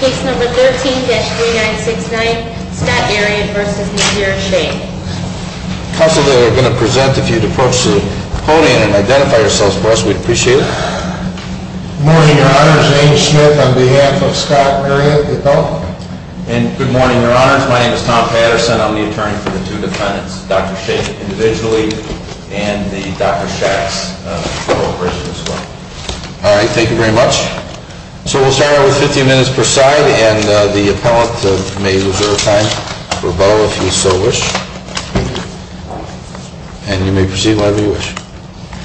Case number 13-3969, Scott Arent v. Napier Shaik. Counsel, they are going to present. If you'd approach the podium and identify yourselves first, we'd appreciate it. Good morning, your honors. James Smith on behalf of Scott Arent, the adult. And good morning, your honors. My name is Tom Patterson. I'm the attorney for the two defendants, Dr. Shaik individually and the Dr. Schatz corporation as well. All right, thank you very much. So we'll start out with 15 minutes per side, and the appellant may reserve time for rebuttal if you so wish. And you may proceed whenever you wish.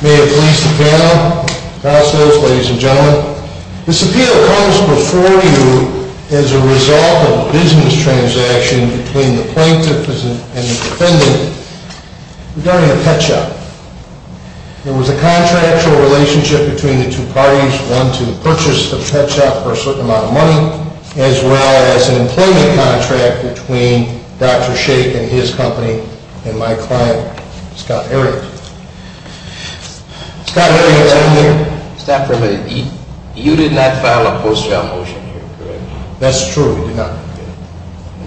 May it please the panel, counsels, ladies and gentlemen. This appeal comes before you as a result of a business transaction between the plaintiff and the defendant regarding a pet shop. There was a contractual relationship between the two parties, one to purchase the pet shop for a certain amount of money, as well as an employment contract between Dr. Shaik and his company and my client, Scott Arent. Scott Arent is on here. Stop for a minute. You did not file a post trial motion here, correct? That's true, we did not.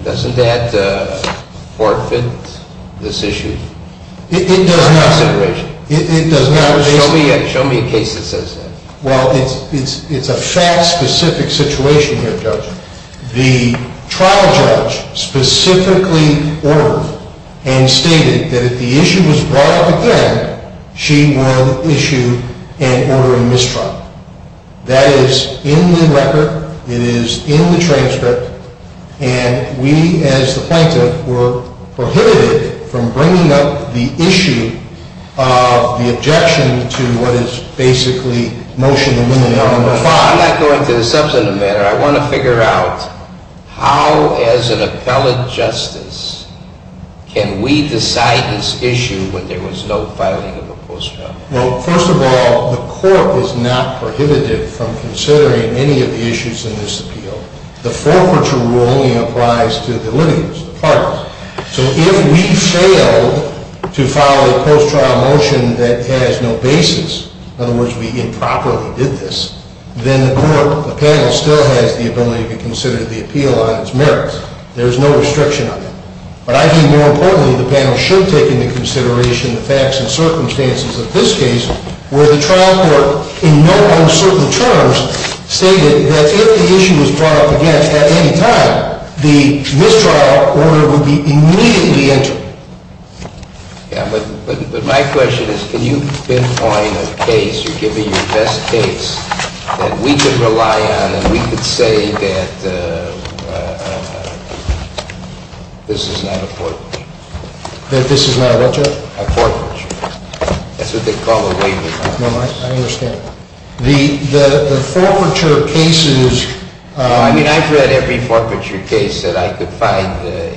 Doesn't that forfeit this issue? It does not. Show me a case that says that. Well, it's a fact-specific situation here, Judge. The trial judge specifically ordered and stated that if the issue was brought up again, she would issue an order of mistrial. That is in the record. It is in the transcript. And we, as the plaintiff, were prohibited from bringing up the issue of the objection to what is basically motion number five. I'm not going to the substantive matter. I want to figure out how, as an appellate justice, can we decide this issue when there was no filing of a post trial? Well, first of all, the court is not prohibited from considering any of the issues in this appeal. The forfeiture rule only applies to the litigants, the parties. So if we failed to file a post trial motion that has no basis, in other words, we improperly did this, then the court, the panel, still has the ability to consider the appeal on its merits. There is no restriction on it. But I think more importantly, the panel should take into consideration the facts and circumstances of this case, where the trial court, in no uncertain terms, stated that if the issue was brought up again at any time, the mistrial order would be immediately entered. But my question is, can you pinpoint a case or give me your best case that we could rely on and we could say that this is not a forfeiture? That this is not a what, Judge? A forfeiture. That's what they call a waiver. I understand. The forfeiture cases. I mean, I've read every forfeiture case that I could find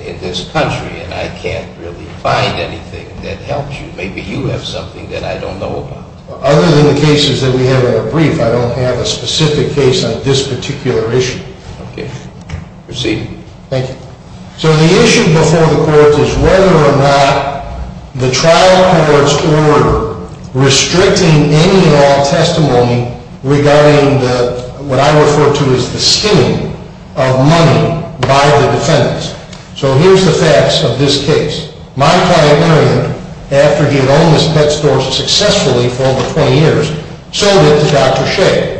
in this country, and I can't really find anything that helps you. Maybe you have something that I don't know about. Other than the cases that we have in our brief, I don't have a specific case on this particular issue. Okay. Proceed. Thank you. So the issue before the courts is whether or not the trial court's order restricting any and all testimony regarding what I refer to as the stealing of money by the defendants. So here's the facts of this case. My client, Marion, after he had owned this pet store successfully for over 20 years, sold it to Dr. Shea.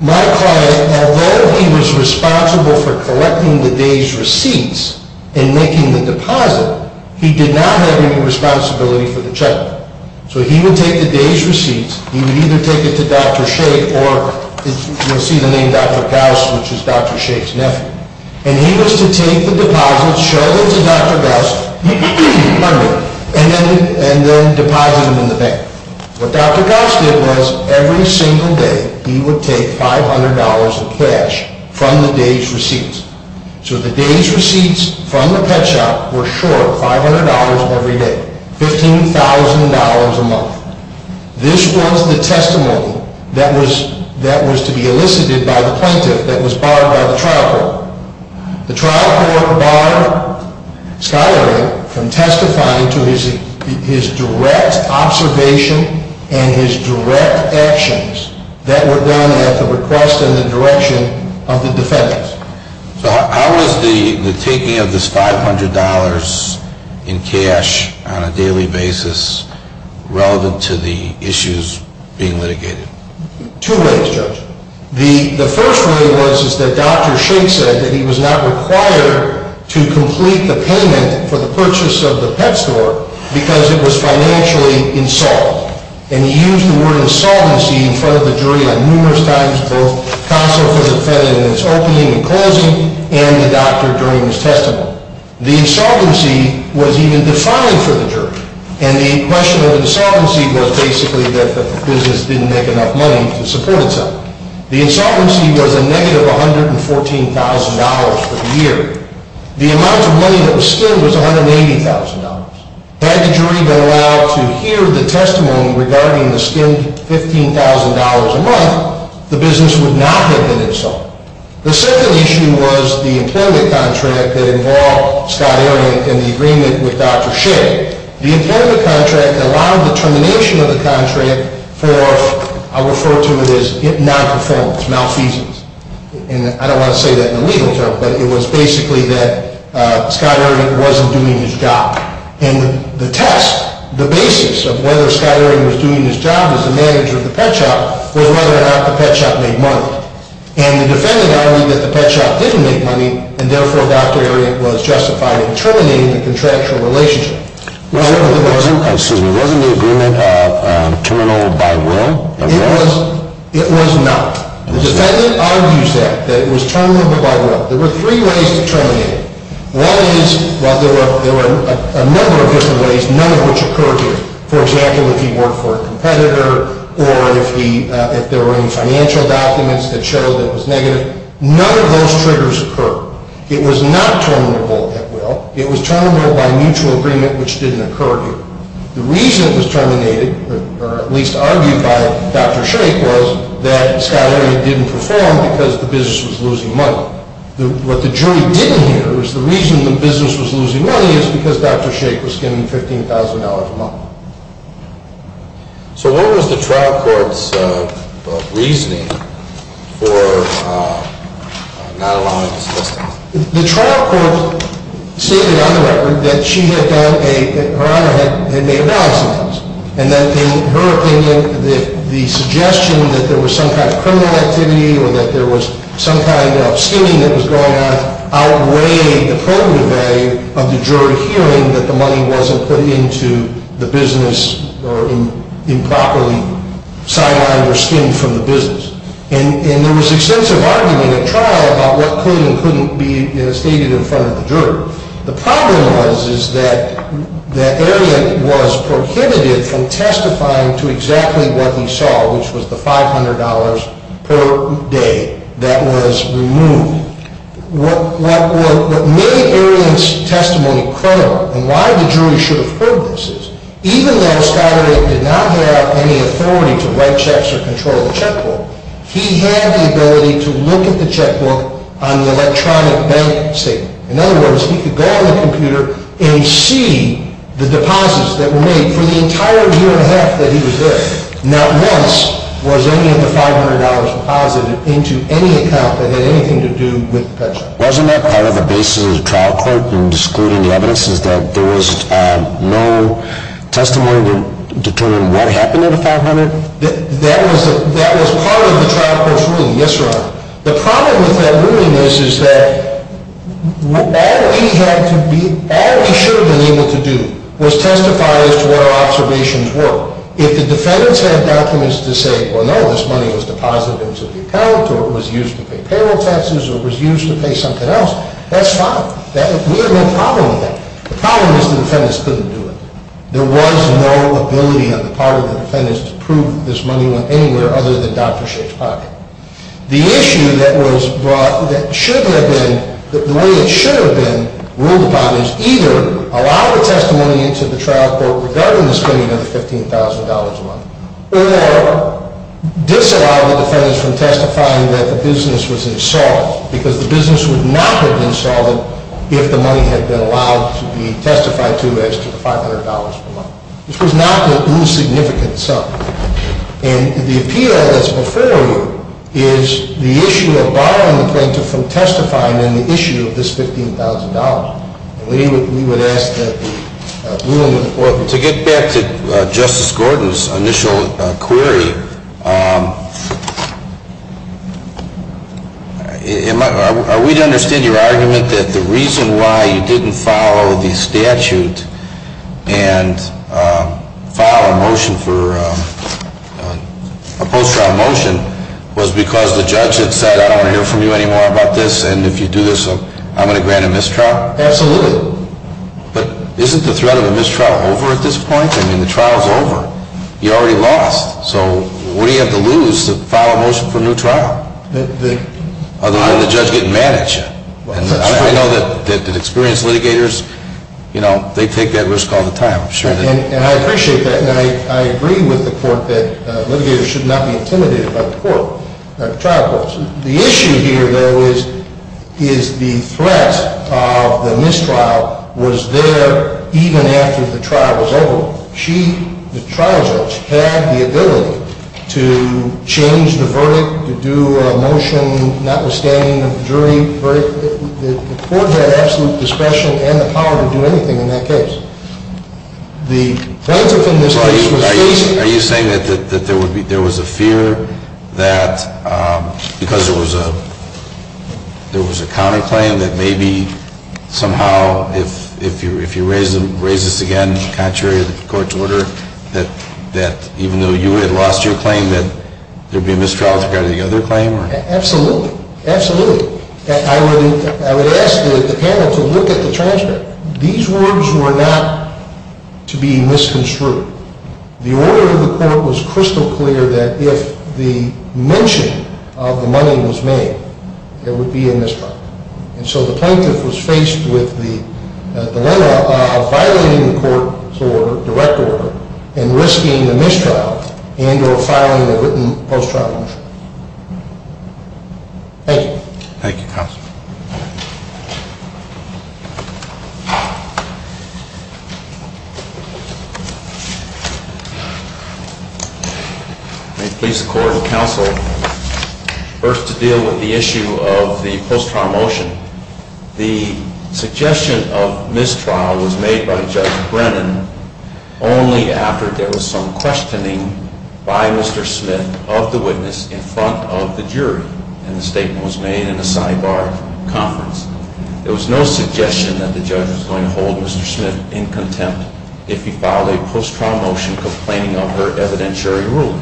My client, although he was responsible for collecting the day's receipts and making the deposit, he did not have any responsibility for the check. So he would take the day's receipts. He would either take it to Dr. Shea, or you'll see the name Dr. Gauss, which is Dr. Shea's nephew. And he was to take the deposits, show them to Dr. Gauss, and then deposit them in the bank. What Dr. Gauss did was, every single day, he would take $500 of cash from the day's receipts. So the day's receipts from the pet shop were short $500 every day, $15,000 a month. This was the testimony that was to be elicited by the plaintiff that was barred by the trial court. The trial court barred Schuyler from testifying to his direct observation and his direct actions that were done at the request and the direction of the defendants. So how was the taking of this $500 in cash on a daily basis relevant to the issues being litigated? Two ways, Judge. The first way was that Dr. Shea said that he was not required to complete the payment for the purchase of the pet store because it was financially insolvent. And he used the word insolvency in front of the jury numerous times, both counsel for the defendant in his opening and closing and the doctor during his testimony. The insolvency was even defined for the jury. And the question of insolvency was basically that the business didn't make enough money to support itself. The insolvency was a negative $114,000 for the year. The amount of money that was skimmed was $180,000. Had the jury been allowed to hear the testimony regarding the skimmed $15,000 a month, the business would not have been insolvent. The second issue was the employment contract that involved Schuyler in the agreement with Dr. Shea. The employment contract allowed the termination of the contract for, I'll refer to it as non-performance, malfeasance. And I don't want to say that in a legal term, but it was basically that Schuyler wasn't doing his job. And the test, the basis of whether Schuyler was doing his job as the manager of the pet shop was whether or not the pet shop made money. And the defendant argued that the pet shop didn't make money, and therefore Dr. Herriot was justified in terminating the contractual relationship. Was it the agreement of terminal by will? It was not. The defendant argues that, that it was terminal by will. There were three ways to terminate it. One is, well, there were a number of different ways, none of which occurred here. For example, if he worked for a competitor, or if there were any financial documents that showed it was negative, none of those triggers occurred. It was not terminable at will. It was terminable by mutual agreement, which didn't occur here. The reason it was terminated, or at least argued by Dr. Shea, was that Schuyler didn't perform because the business was losing money. What the jury didn't hear is the reason the business was losing money is because Dr. Shea was skimming $15,000 a month. So what was the trial court's reasoning for not allowing this business? The trial court stated on the record that she had done a, that Her Honor had made a balance of dollars. And that in her opinion, the suggestion that there was some kind of criminal activity, or that there was some kind of skimming that was going on, outweighed the probative value of the jury hearing that the money wasn't put into the business, or improperly sidelined or skimmed from the business. And there was extensive argument at trial about what could and couldn't be stated in front of the jury. The problem was, is that Arian was prohibited from testifying to exactly what he saw, which was the $500 per day that was removed. What made Arian's testimony credible, and why the jury should have heard this, is even though Schuyler did not have any authority to write checks or control the checkbook, he had the ability to look at the checkbook on the electronic bank statement. In other words, he could go on the computer and see the deposits that were made for the entire year and a half that he was there. Not once was any of the $500 deposited into any account that had anything to do with the pension. Wasn't that part of the basis of the trial court in excluding the evidence, is that there was no testimony to determine what happened to the $500? That was part of the trial court's ruling, yes, Your Honor. The problem with that ruling is, is that all he had to be, all he should have been able to do was testify as to what our observations were. If the defendants had documents to say, well, no, this money was deposited into the account, or it was used to pay payroll taxes, or it was used to pay something else, that's fine. We have no problem with that. The problem is the defendants couldn't do it. There was no ability on the part of the defendants to prove that this money went anywhere other than Dr. Shakespeare's pocket. The issue that was brought, that should have been, the way it should have been ruled about is either allow the testimony into the trial court regarding the spending of the $15,000 a month, or disallow the defendants from testifying that the business was insolvent, because the business would not have been solid if the money had been allowed to be testified to as to the $500 per month. This was not an insignificant sum. And the appeal that's before you is the issue of barring the plaintiff from testifying in the issue of this $15,000. And we would ask that the ruling would... To get back to Justice Gordon's initial query, are we to understand your argument that the reason why you didn't follow the statute and file a motion for a post-trial motion was because the judge had said, I don't want to hear from you anymore about this, and if you do this, I'm going to grant a mistrial? Absolutely. But isn't the threat of a mistrial over at this point? I mean, the trial's over. You already lost. So what do you have to lose to file a motion for a new trial? Otherwise, the judge will get mad at you. And I know that experienced litigators, you know, they take that risk all the time. I'm sure they do. And I appreciate that. And I agree with the court that litigators should not be intimidated by the trial courts. The issue here, though, is the threat of the mistrial was there even after the trial was over. She, the trial judge, had the ability to change the verdict, to do a motion notwithstanding the jury. The court had absolute discretion and the power to do anything in that case. The plaintiff in this case was facing... Because there was a counterclaim that maybe somehow, if you raise this again, contrary to the court's order, that even though you had lost your claim, that there would be a mistrial with regard to the other claim? Absolutely. Absolutely. I would ask the panel to look at the transcript. These words were not to be misconstrued. The order of the court was crystal clear that if the mention of the money was made, there would be a mistrial. And so the plaintiff was faced with the dilemma of violating the court's order, direct order, and risking a mistrial and or filing a written post-trial motion. Thank you, counsel. May it please the court and counsel, first to deal with the issue of the post-trial motion. The suggestion of mistrial was made by Judge Brennan only after there was some questioning by Mr. Smith of the witness in front of the jury. And the statement was made in a sidebar conference. There was no suggestion that the judge was going to hold Mr. Smith in contempt if he filed a post-trial motion complaining of her evidentiary ruling.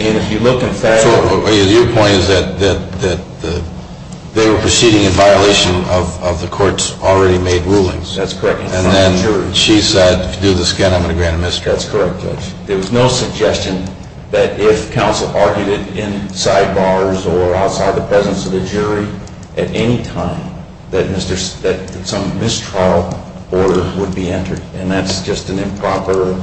And if you look in fact- So your point is that they were proceeding in violation of the court's already made rulings. That's correct. And then she said, if you do this again, I'm going to grant a mistrial. That's correct, Judge. There was no suggestion that if counsel argued it in sidebars or outside the presence of the jury at any time that some mistrial order would be entered. And that's just an improper,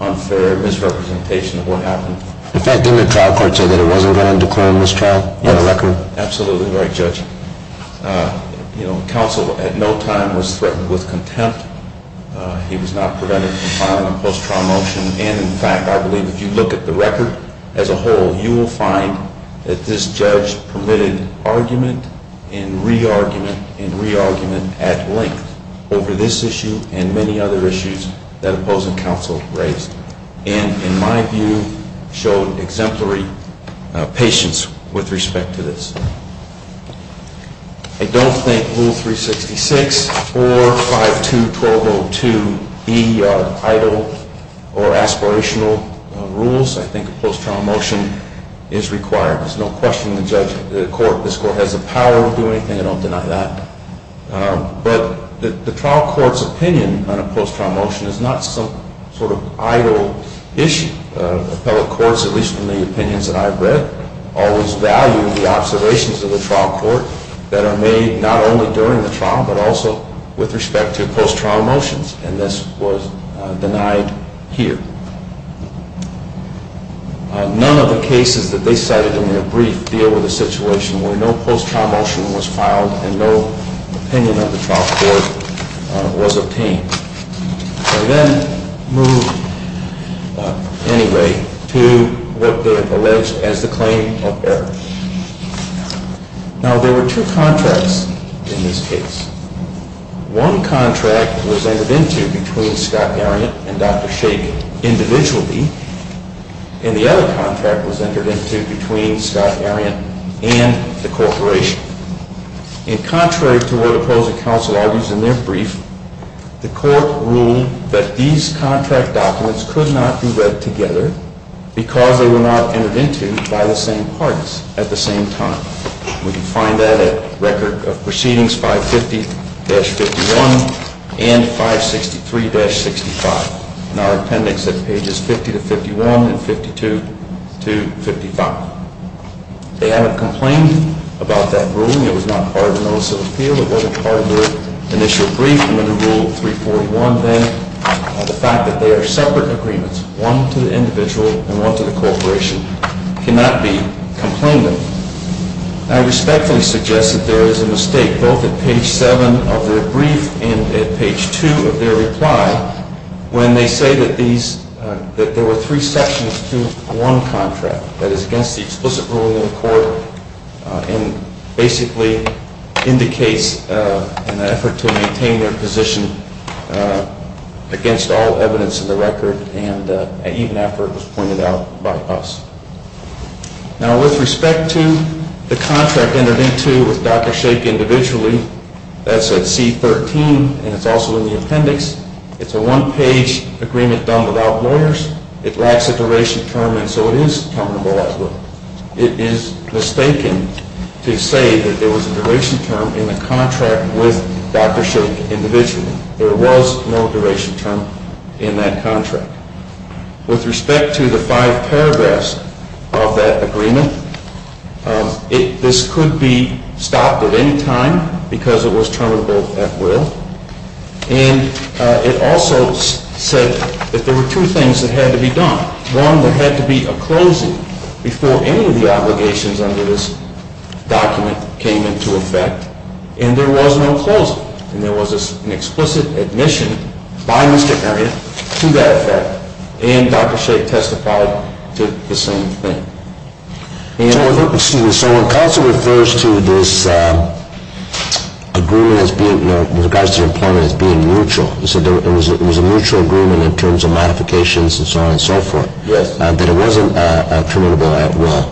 unfair misrepresentation of what happened. In fact, didn't the trial court say that it wasn't going to declare a mistrial on the record? Yes, absolutely right, Judge. You know, counsel at no time was threatened with contempt. He was not prevented from filing a post-trial motion. And in fact, I believe if you look at the record as a whole, you will find that this judge permitted argument and re-argument and re-argument at length over this issue and many other issues that opposing counsel raised. And in my view, showed exemplary patience with respect to this. I don't think Rule 366 or 521202 be idle or aspirational rules. I think a post-trial motion is required. There's no question the judge, the court, this court has the power to do anything. I don't deny that. But the trial court's opinion on a post-trial motion is not some sort of idle issue. I think the appellate courts, at least from the opinions that I've read, always value the observations of the trial court that are made not only during the trial but also with respect to post-trial motions. And this was denied here. None of the cases that they cited in their brief deal with a situation where no post-trial motion was filed and no opinion of the trial court was obtained. And then move, anyway, to what they have alleged as the claim of error. Now, there were two contracts in this case. One contract was entered into between Scott Ariant and Dr. Shake individually. And the other contract was entered into between Scott Ariant and the corporation. And contrary to what appellate counsel argues in their brief, the court ruled that these contract documents could not be read together because they were not entered into by the same parties at the same time. We can find that at Record of Proceedings 550-51 and 563-65 in our appendix at pages 50 to 51 and 52 to 55. They haven't complained about that ruling. It was not part of a notice of appeal. It wasn't part of their initial brief. And under Rule 341, then, the fact that they are separate agreements, one to the individual and one to the corporation, cannot be complained of. I respectfully suggest that there is a mistake, both at page 7 of their brief and at page 2 of their reply, when they say that there were three sections to one contract, that is, against the explicit ruling of the court, and basically indicates an effort to maintain their position against all evidence in the record, even after it was pointed out by us. Now, with respect to the contract entered into with Dr. Shake individually, that's at C-13, and it's also in the appendix. It's a one-page agreement done without lawyers. It lacks a duration term, and so it is comparable as well. It is mistaken to say that there was a duration term in the contract with Dr. Shake individually. There was no duration term in that contract. With respect to the five paragraphs of that agreement, this could be stopped at any time because it was terminable at will. And it also said that there were two things that had to be done. One, there had to be a closing before any of the obligations under this document came into effect, and there was no closing. And there was an explicit admission by Mr. Heria to that effect, and Dr. Shake testified to the same thing. Excuse me. So when Counsel refers to this agreement as being, you know, with regards to employment as being mutual, you said there was a mutual agreement in terms of modifications and so on and so forth. Yes. That it wasn't terminable at will.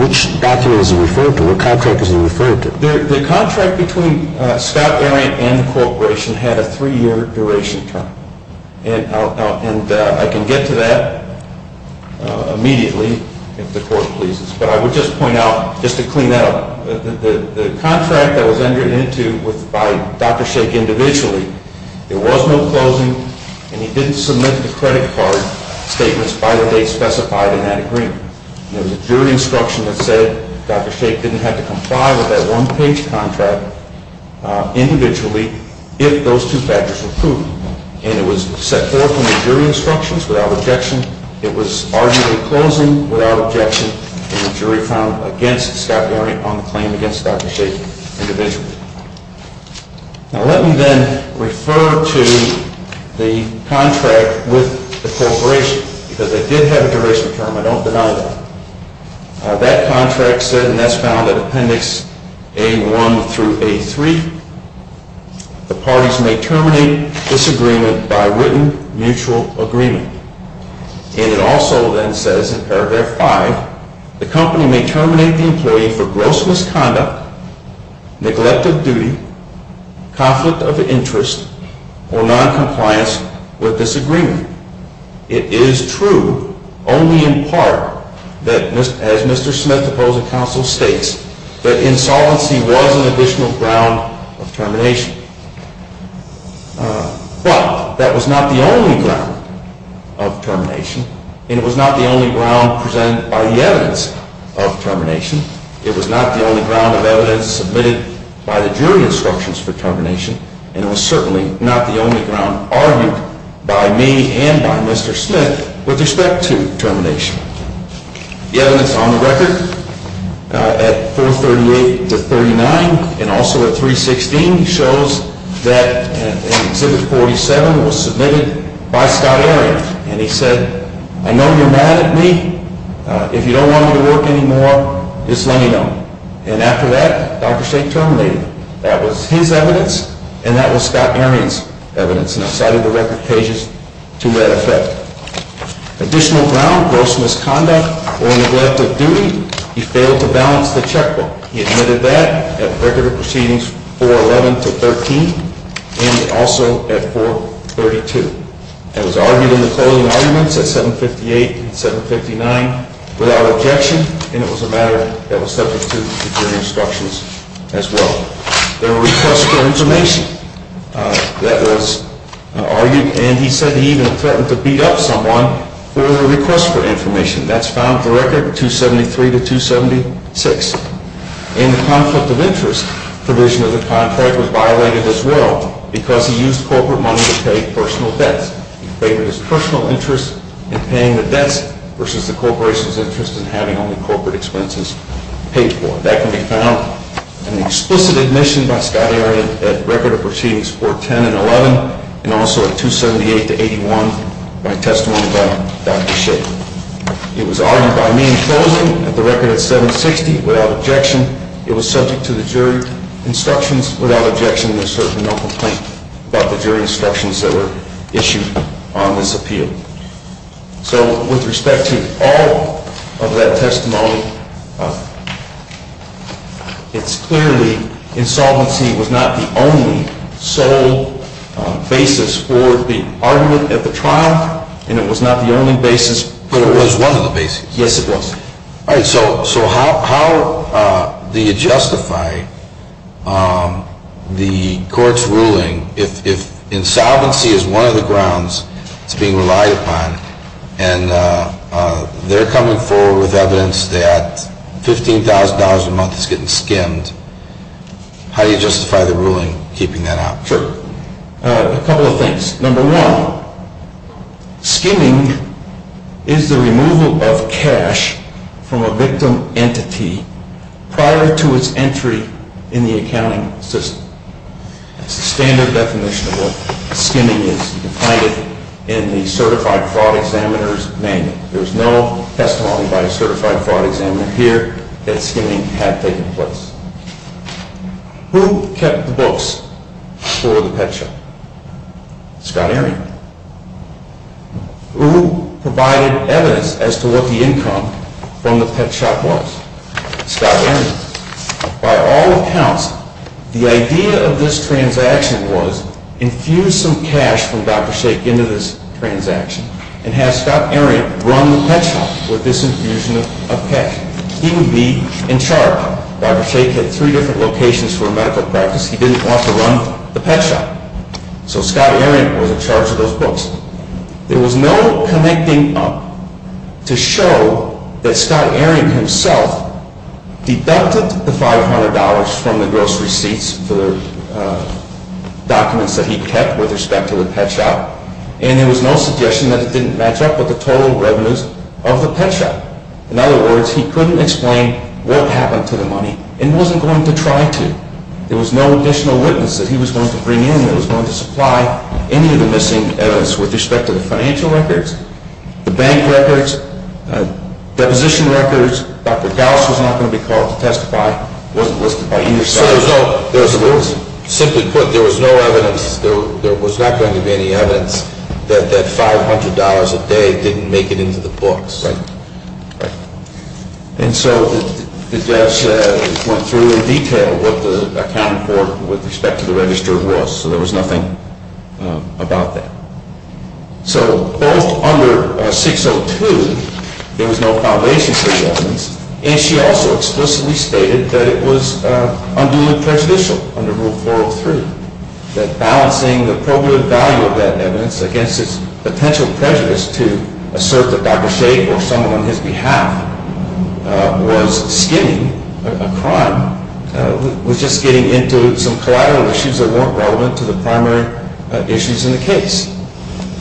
Which document is he referring to? What contract is he referring to? The contract between Scott Arian and the corporation had a three-year duration term. And I can get to that immediately if the Court pleases. But I would just point out, just to clean that up, the contract that was entered into by Dr. Shake individually, there was no closing, and he didn't submit the credit card statements by the date specified in that agreement. There was a jury instruction that said Dr. Shake didn't have to comply with that one-page contract individually if those two factors were proven. And it was set forth in the jury instructions without objection. It was arguably closing without objection, and the jury found against Scott Arian on the claim against Dr. Shake individually. Now, let me then refer to the contract with the corporation, because they did have a duration term. I don't deny that. That contract said, and that's found in Appendix A-1 through A-3, the parties may terminate this agreement by written mutual agreement. And it also then says in paragraph 5, the company may terminate the employee for gross misconduct, neglect of duty, conflict of interest, or noncompliance with this agreement. It is true, only in part, that as Mr. Smith, opposing counsel, states, that insolvency was an additional ground of termination. But that was not the only ground of termination, and it was not the only ground presented by the evidence of termination. It was not the only ground of evidence submitted by the jury instructions for termination, and it was certainly not the only ground argued by me and by Mr. Smith with respect to termination. The evidence on the record at 438 to 39, and also at 316, shows that Exhibit 47 was submitted by Scott Arian. And he said, I know you're mad at me. If you don't want me to work anymore, just let me know. And after that, Dr. Shake terminated. That was his evidence, and that was Scott Arian's evidence, and I cited the record pages to that effect. Additional ground, gross misconduct, or neglect of duty, he failed to balance the checkbook. He admitted that at Record of Proceedings 411 to 13, and also at 432. And was argued in the closing arguments at 758 and 759 without objection, and it was a matter that was subject to the jury instructions as well. There were requests for information that was argued, and he said he even threatened to beat up someone for the request for information. That's found at the record 273 to 276. In the conflict of interest provision of the contract was violated as well, because he used corporate money to pay personal debts. He favored his personal interest in paying the debts versus the corporation's interest in having only corporate expenses paid for. That can be found in the explicit admission by Scott Arian at Record of Proceedings 410 and 11, and also at 278 to 81 by testimony by Dr. Shake. It was argued by me in closing at the record at 760 without objection. It was subject to the jury instructions without objection, and there's certainly no complaint about the jury instructions that were issued on this appeal. So with respect to all of that testimony, it's clearly insolvency was not the only sole basis for the argument at the trial, and it was not the only basis put forward. But it was one of the bases. Yes, it was. All right. So how do you justify the court's ruling if insolvency is one of the grounds it's being relied upon, and they're coming forward with evidence that $15,000 a month is getting skimmed, how do you justify the ruling keeping that out? Sure. A couple of things. Number one, skimming is the removal of cash from a victim entity prior to its entry in the accounting system. That's the standard definition of what skimming is. You can find it in the certified fraud examiner's manual. There's no testimony by a certified fraud examiner here that skimming had taken place. So the question is, who kept the books for the pet shop? Scott Arrien. Who provided evidence as to what the income from the pet shop was? Scott Arrien. By all accounts, the idea of this transaction was infuse some cash from Dr. Shakey into this transaction and have Scott Arrien run the pet shop with this infusion of cash. He would be in charge. Dr. Shakey had three different locations for medical practice. He didn't want to run the pet shop. So Scott Arrien was in charge of those books. There was no connecting up to show that Scott Arrien himself deducted the $500 from the gross receipts for documents that he kept with respect to the pet shop, and there was no suggestion that it didn't match up with the total revenues of the pet shop. In other words, he couldn't explain what happened to the money and wasn't going to try to. There was no additional witness that he was going to bring in that was going to supply any of the missing evidence with respect to the financial records, the bank records, deposition records. Dr. Gauss was not going to be called to testify. It wasn't listed by either side. Simply put, there was no evidence. There was not going to be any evidence that that $500 a day didn't make it into the books. Right. Right. And so the judge went through in detail what the accounting report with respect to the register was. So there was nothing about that. So both under 602, there was no foundation for the evidence, and she also explicitly stated that it was unduly prejudicial under Rule 403, that balancing the probative value of that evidence against its potential prejudice to assert that Dr. Shade or someone on his behalf was skimming a crime was just getting into some collateral issues that weren't relevant to the primary issues in the case.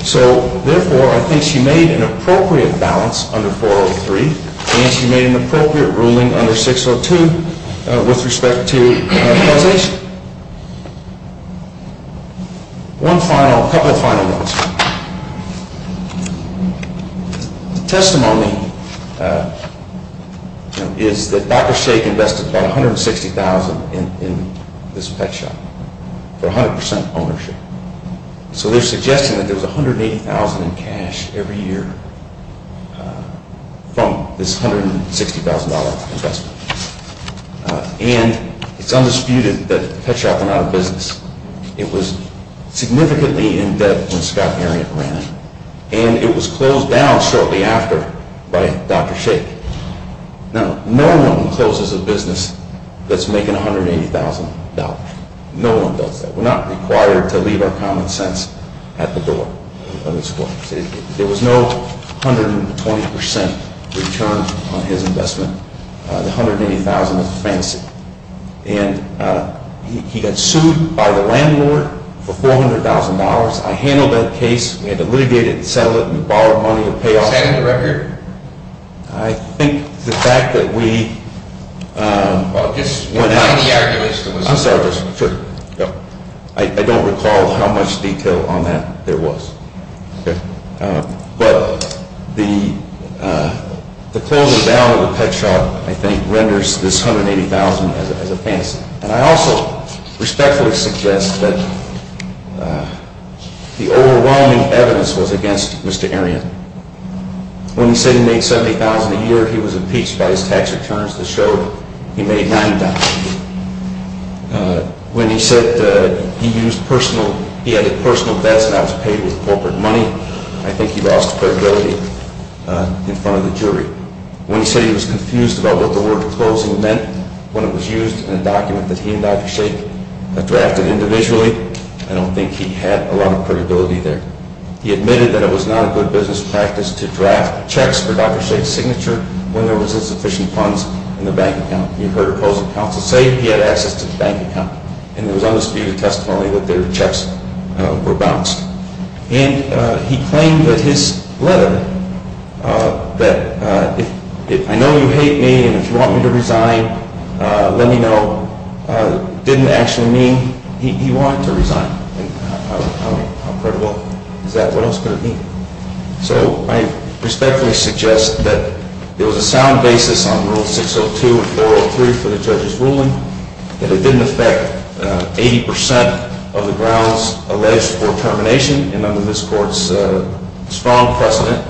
So, therefore, I think she made an appropriate balance under 403, and she made an appropriate ruling under 602 with respect to compensation. One final, couple of final notes. The testimony is that Dr. Shade invested about $160,000 in this pet shop for 100% ownership. So they're suggesting that there was $180,000 in cash every year from this $160,000 investment. And it's undisputed that the pet shop went out of business. It was significantly in debt when Scott Arion ran it, and it was closed down shortly after by Dr. Shade. Now, no one closes a business that's making $180,000. No one does that. We're not required to leave our common sense at the door of this court. There was no 120% return on his investment. The $180,000 is a fantasy. And he got sued by the landlord for $400,000. I handled that case. We had to litigate it and settle it. We borrowed money to pay off- Is that in the record? I think the fact that we- Well, it just went out- I'm sorry. Sure. I don't recall how much detail on that there was. Okay. But the closing down of the pet shop, I think, renders this $180,000 as a fantasy. And I also respectfully suggest that the overwhelming evidence was against Mr. Arion. When he said he made $70,000 a year, he was impeached by his tax returns that showed he made $90. When he said he had personal debts and that was paid with corporate money, I think he lost credibility in front of the jury. When he said he was confused about what the word closing meant when it was used in a document that he and Dr. Shaik drafted individually, I don't think he had a lot of credibility there. He admitted that it was not a good business practice to draft checks for Dr. Shaik's signature when there was insufficient funds in the bank account. You've heard opposing counsel say he had access to the bank account and there was undisputed testimony that their checks were bounced. And he claimed that his letter that, I know you hate me and if you want me to resign, let me know, didn't actually mean he wanted to resign. How credible is that? What else could it mean? So I respectfully suggest that there was a sound basis on Rule 602 and 403 for the judge's ruling. That it didn't affect 80% of the grounds alleged for termination. And under this court's strong precedent,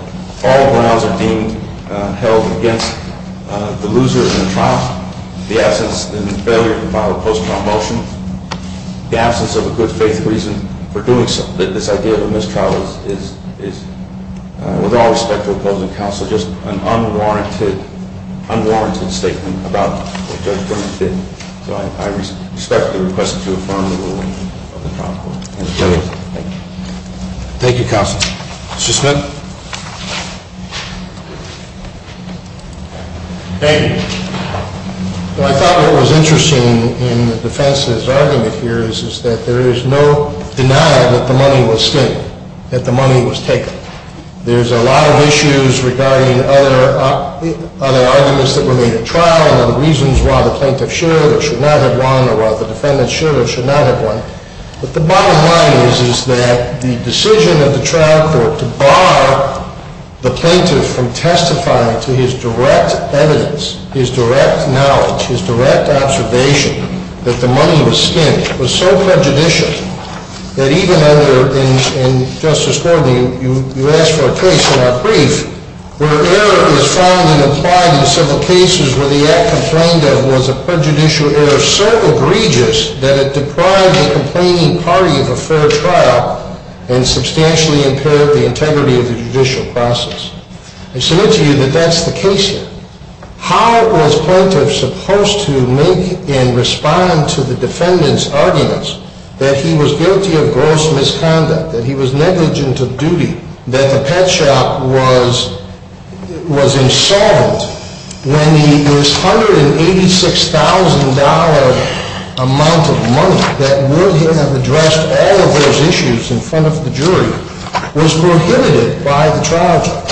all grounds are being held against the loser in the trial. The absence and failure to file a post-trial motion. The absence of a good faith reason for doing so. This idea of a mistrial is, with all respect to opposing counsel, just an unwarranted statement about what Judge Berman did. So I respectfully request that you affirm the ruling of the trial court. Thank you. Thank you, counsel. Mr. Smith? Thank you. I thought what was interesting in the defense's argument here is that there is no denial that the money was taken. There's a lot of issues regarding other arguments that were made at trial and other reasons why the plaintiff should or should not have won or why the defendant should or should not have won. But the bottom line is that the decision of the trial court to bar the plaintiff from testifying to his direct evidence, his direct knowledge, his direct observation that the money was spent was so prejudicial. That even under, and Justice Gordon, you asked for a case in our brief where error is found and applied in several cases where the act complained of was a prejudicial error so egregious that it deprived the complaining party of a fair trial and substantially impaired the integrity of the judicial process. I submit to you that that's the case here. How was plaintiff supposed to make and respond to the defendant's arguments that he was guilty of gross misconduct, that he was negligent of duty, that the pet shop was insolvent when the $186,000 amount of money that would have addressed all of those issues in front of the jury was prohibited by the trial court?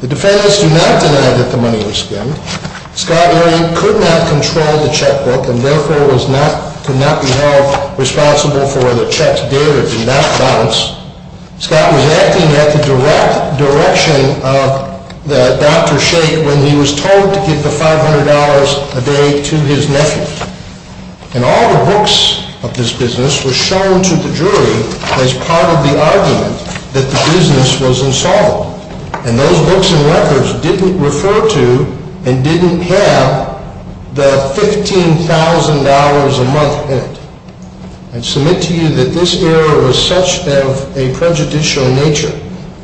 The defendants do not deny that the money was spent. Scott Erick could not control the checkbook and therefore was not, could not be held responsible for the checks dated in that balance. Scott was acting at the direct direction of Dr. Sheik when he was told to give the $500 a day to his nephew. And all the books of this business were shown to the jury as part of the argument that the business was insolvent. And those books and records didn't refer to and didn't have the $15,000 a month in it. I submit to you that this error was such of a prejudicial nature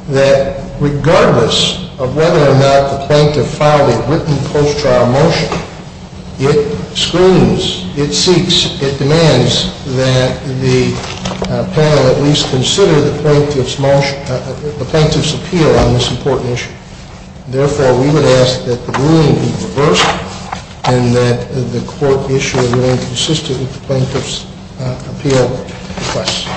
that regardless of whether or not the plaintiff filed a written post-trial motion, it screams, it seeks, it demands that the panel at least consider the plaintiff's motion, the plaintiff's appeal on this important issue. Therefore, we would ask that the ruling be reversed and that the court issue a non-consistent with the plaintiff's appeal request.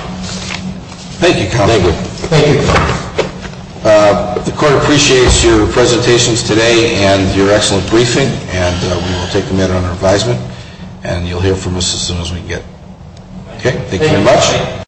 Thank you, counsel. Thank you. Thank you. The court appreciates your presentations today and your excellent briefing. And we will take the matter under advisement. And you'll hear from us as soon as we can get it. Okay, thank you very much. Thank you.